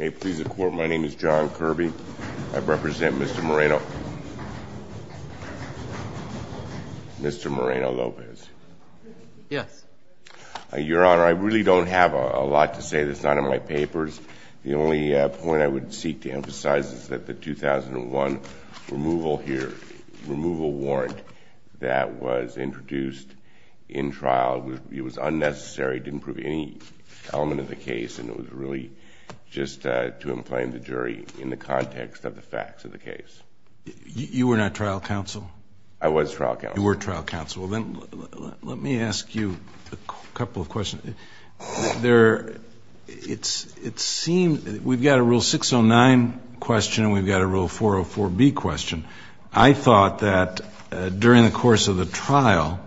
Yes. Your Honor, I really don't have a lot to say that's not in my papers. The only point I would seek to emphasize is that the 2001 removal here, removal warrant that was introduced in trial, it was unnecessary, didn't prove any element of the case, and it was really just to inflame the jury in the context of the facts of the case. You were not trial counsel? I was trial counsel. You were trial counsel. Well, then let me ask you a couple of questions. There, it seems, we've got a Rule 609 question and we've got a Rule 404B question. I thought that during the course of the trial,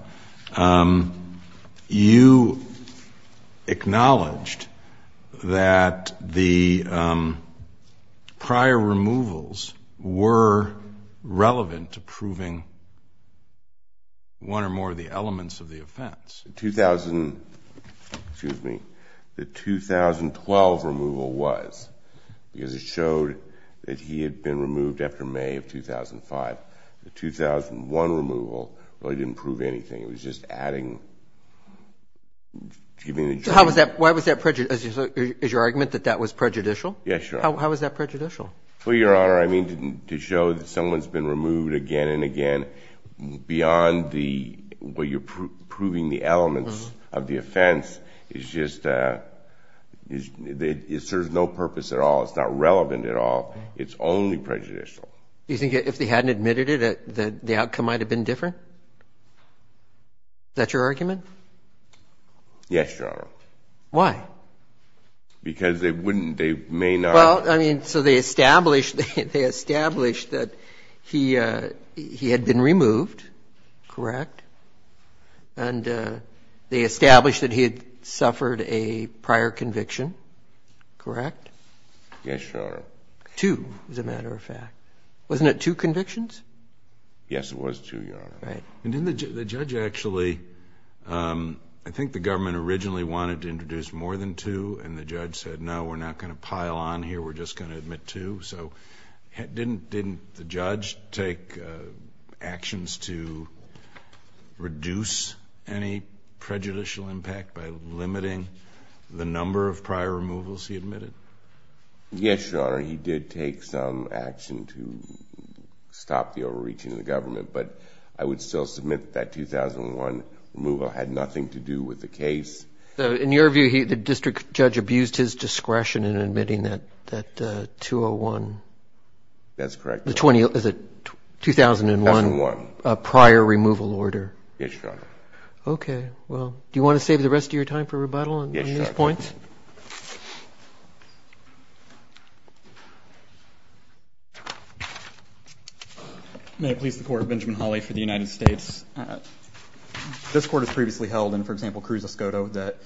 you acknowledged that the prior removals were relevant to proving one or more of the elements of the offense. The 2000, excuse me, the 2012 removal was, because it showed that he had been removed after May of 2005, the 2001 removal really didn't prove anything. It was just adding to the jury. Why was that prejudicial? Is your argument that that was prejudicial? Yes, Your Honor. How was that prejudicial? Well, Your Honor, I mean to show that someone's been removed again and again beyond the way you're proving the elements of the offense. It serves no purpose at all. It's not relevant at all. It's only prejudicial. Do you think if they hadn't admitted it, that the outcome might have been different? Is that your argument? Yes, Your Honor. Why? Because they wouldn't, they may not. Well, I mean, so they established, they established that he had been removed, correct? And they established that he had suffered a prior conviction, correct? Yes, Your Honor. Two, as a matter of fact. Wasn't it two convictions? Yes, it was two, Your Honor. Right. And didn't the judge actually, I think the government originally wanted to introduce more than two, and the judge said, no, we're not going to pile on here, we're just going to admit two. So didn't the judge take actions to reduce any prejudicial impact by limiting the number of prior removals he admitted? Yes, Your Honor. He did take some action to stop the overreaching of the government, but I would still submit that 2001 removal had nothing to do with the case. So in your view, the district judge abused his discretion in admitting that 201? That's correct. The 20, is it 2001? 2001. A prior removal order. Yes, Your Honor. Okay. Well, do you want to save the rest of your time for rebuttal on these points? Yes, Your Honor. May it please the Court, Benjamin Hawley for the United States. This Court has previously held in, for example, Cruz-Escoto, that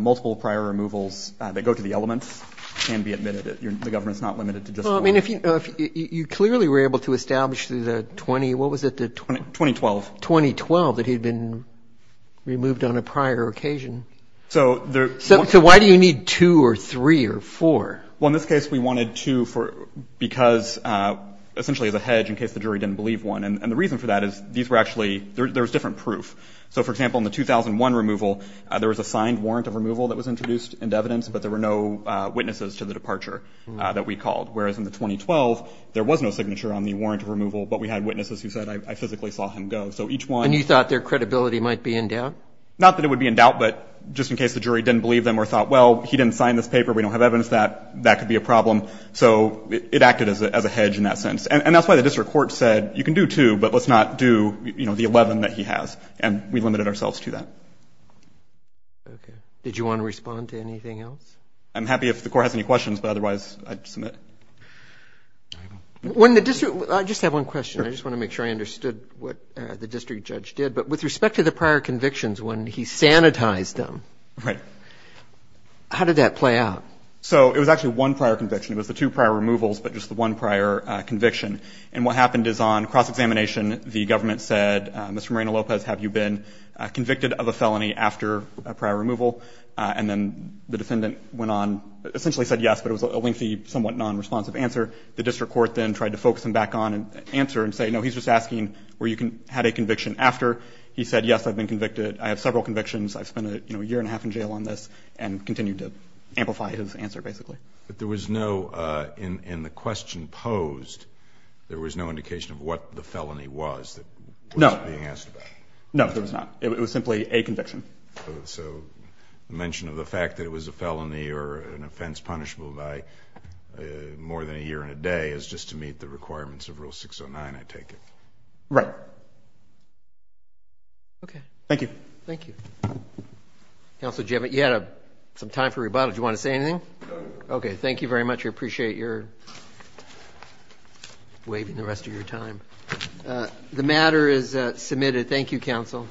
multiple prior removals that go to the elements can be admitted. The government's not limited to just one. Well, I mean, you clearly were able to establish the 20, what was it? 2012. 2012, that he'd been removed on a prior occasion. So there... So why do you need two or three or four? Well, in this case, we wanted two for, because, essentially as a hedge in case the jury didn't believe one. And the reason for that is these were actually, there was different proof. So, for example, in the 2001 removal, there was a signed warrant of removal that was introduced into evidence, but there were no witnesses to the departure that we called. Whereas in the 2012, there was no signature on the warrant of removal, but we had So each one... And you thought their credibility might be in doubt? Not that it would be in doubt, but just in case the jury didn't believe them or thought, well, he didn't sign this paper, we don't have evidence of that, that could be a problem. So it acted as a hedge in that sense. And that's why the district court said, you can do two, but let's not do, you know, the 11 that he has. And we limited ourselves to that. Okay. Did you want to respond to anything else? I'm happy if the Court has any questions, but otherwise I'd submit. When the district, I just have one question. I just want to make sure I understood what the district judge did. But with respect to the prior convictions, when he sanitized them, how did that play out? So it was actually one prior conviction. It was the two prior removals, but just the one prior conviction. And what happened is on cross-examination, the government said, Mr. Moreno-Lopez, have you been convicted of a felony after a prior removal? And then the defendant went on, essentially said yes, but it was a lengthy, somewhat non-responsive answer. The district court then tried to focus him back on an answer and say, no, he's just asking where you had a conviction after. He said, yes, I've been convicted. I have several convictions. I've spent a year and a half in jail on this, and continued to amplify his answer, basically. But there was no, in the question posed, there was no indication of what the felony was that wasn't being asked about? No. No, there was not. It was simply a conviction. So the mention of the fact that it was a felony or an offense punishable by more than a year and a day is just to meet the requirements of Rule 609, I take it? Right. Okay. Thank you. Thank you. Counsel, you had some time for rebuttal. Do you want to say anything? No. Okay. Thank you very much. I appreciate your waiving the rest of your time. The matter is submitted. Thank you, counsel.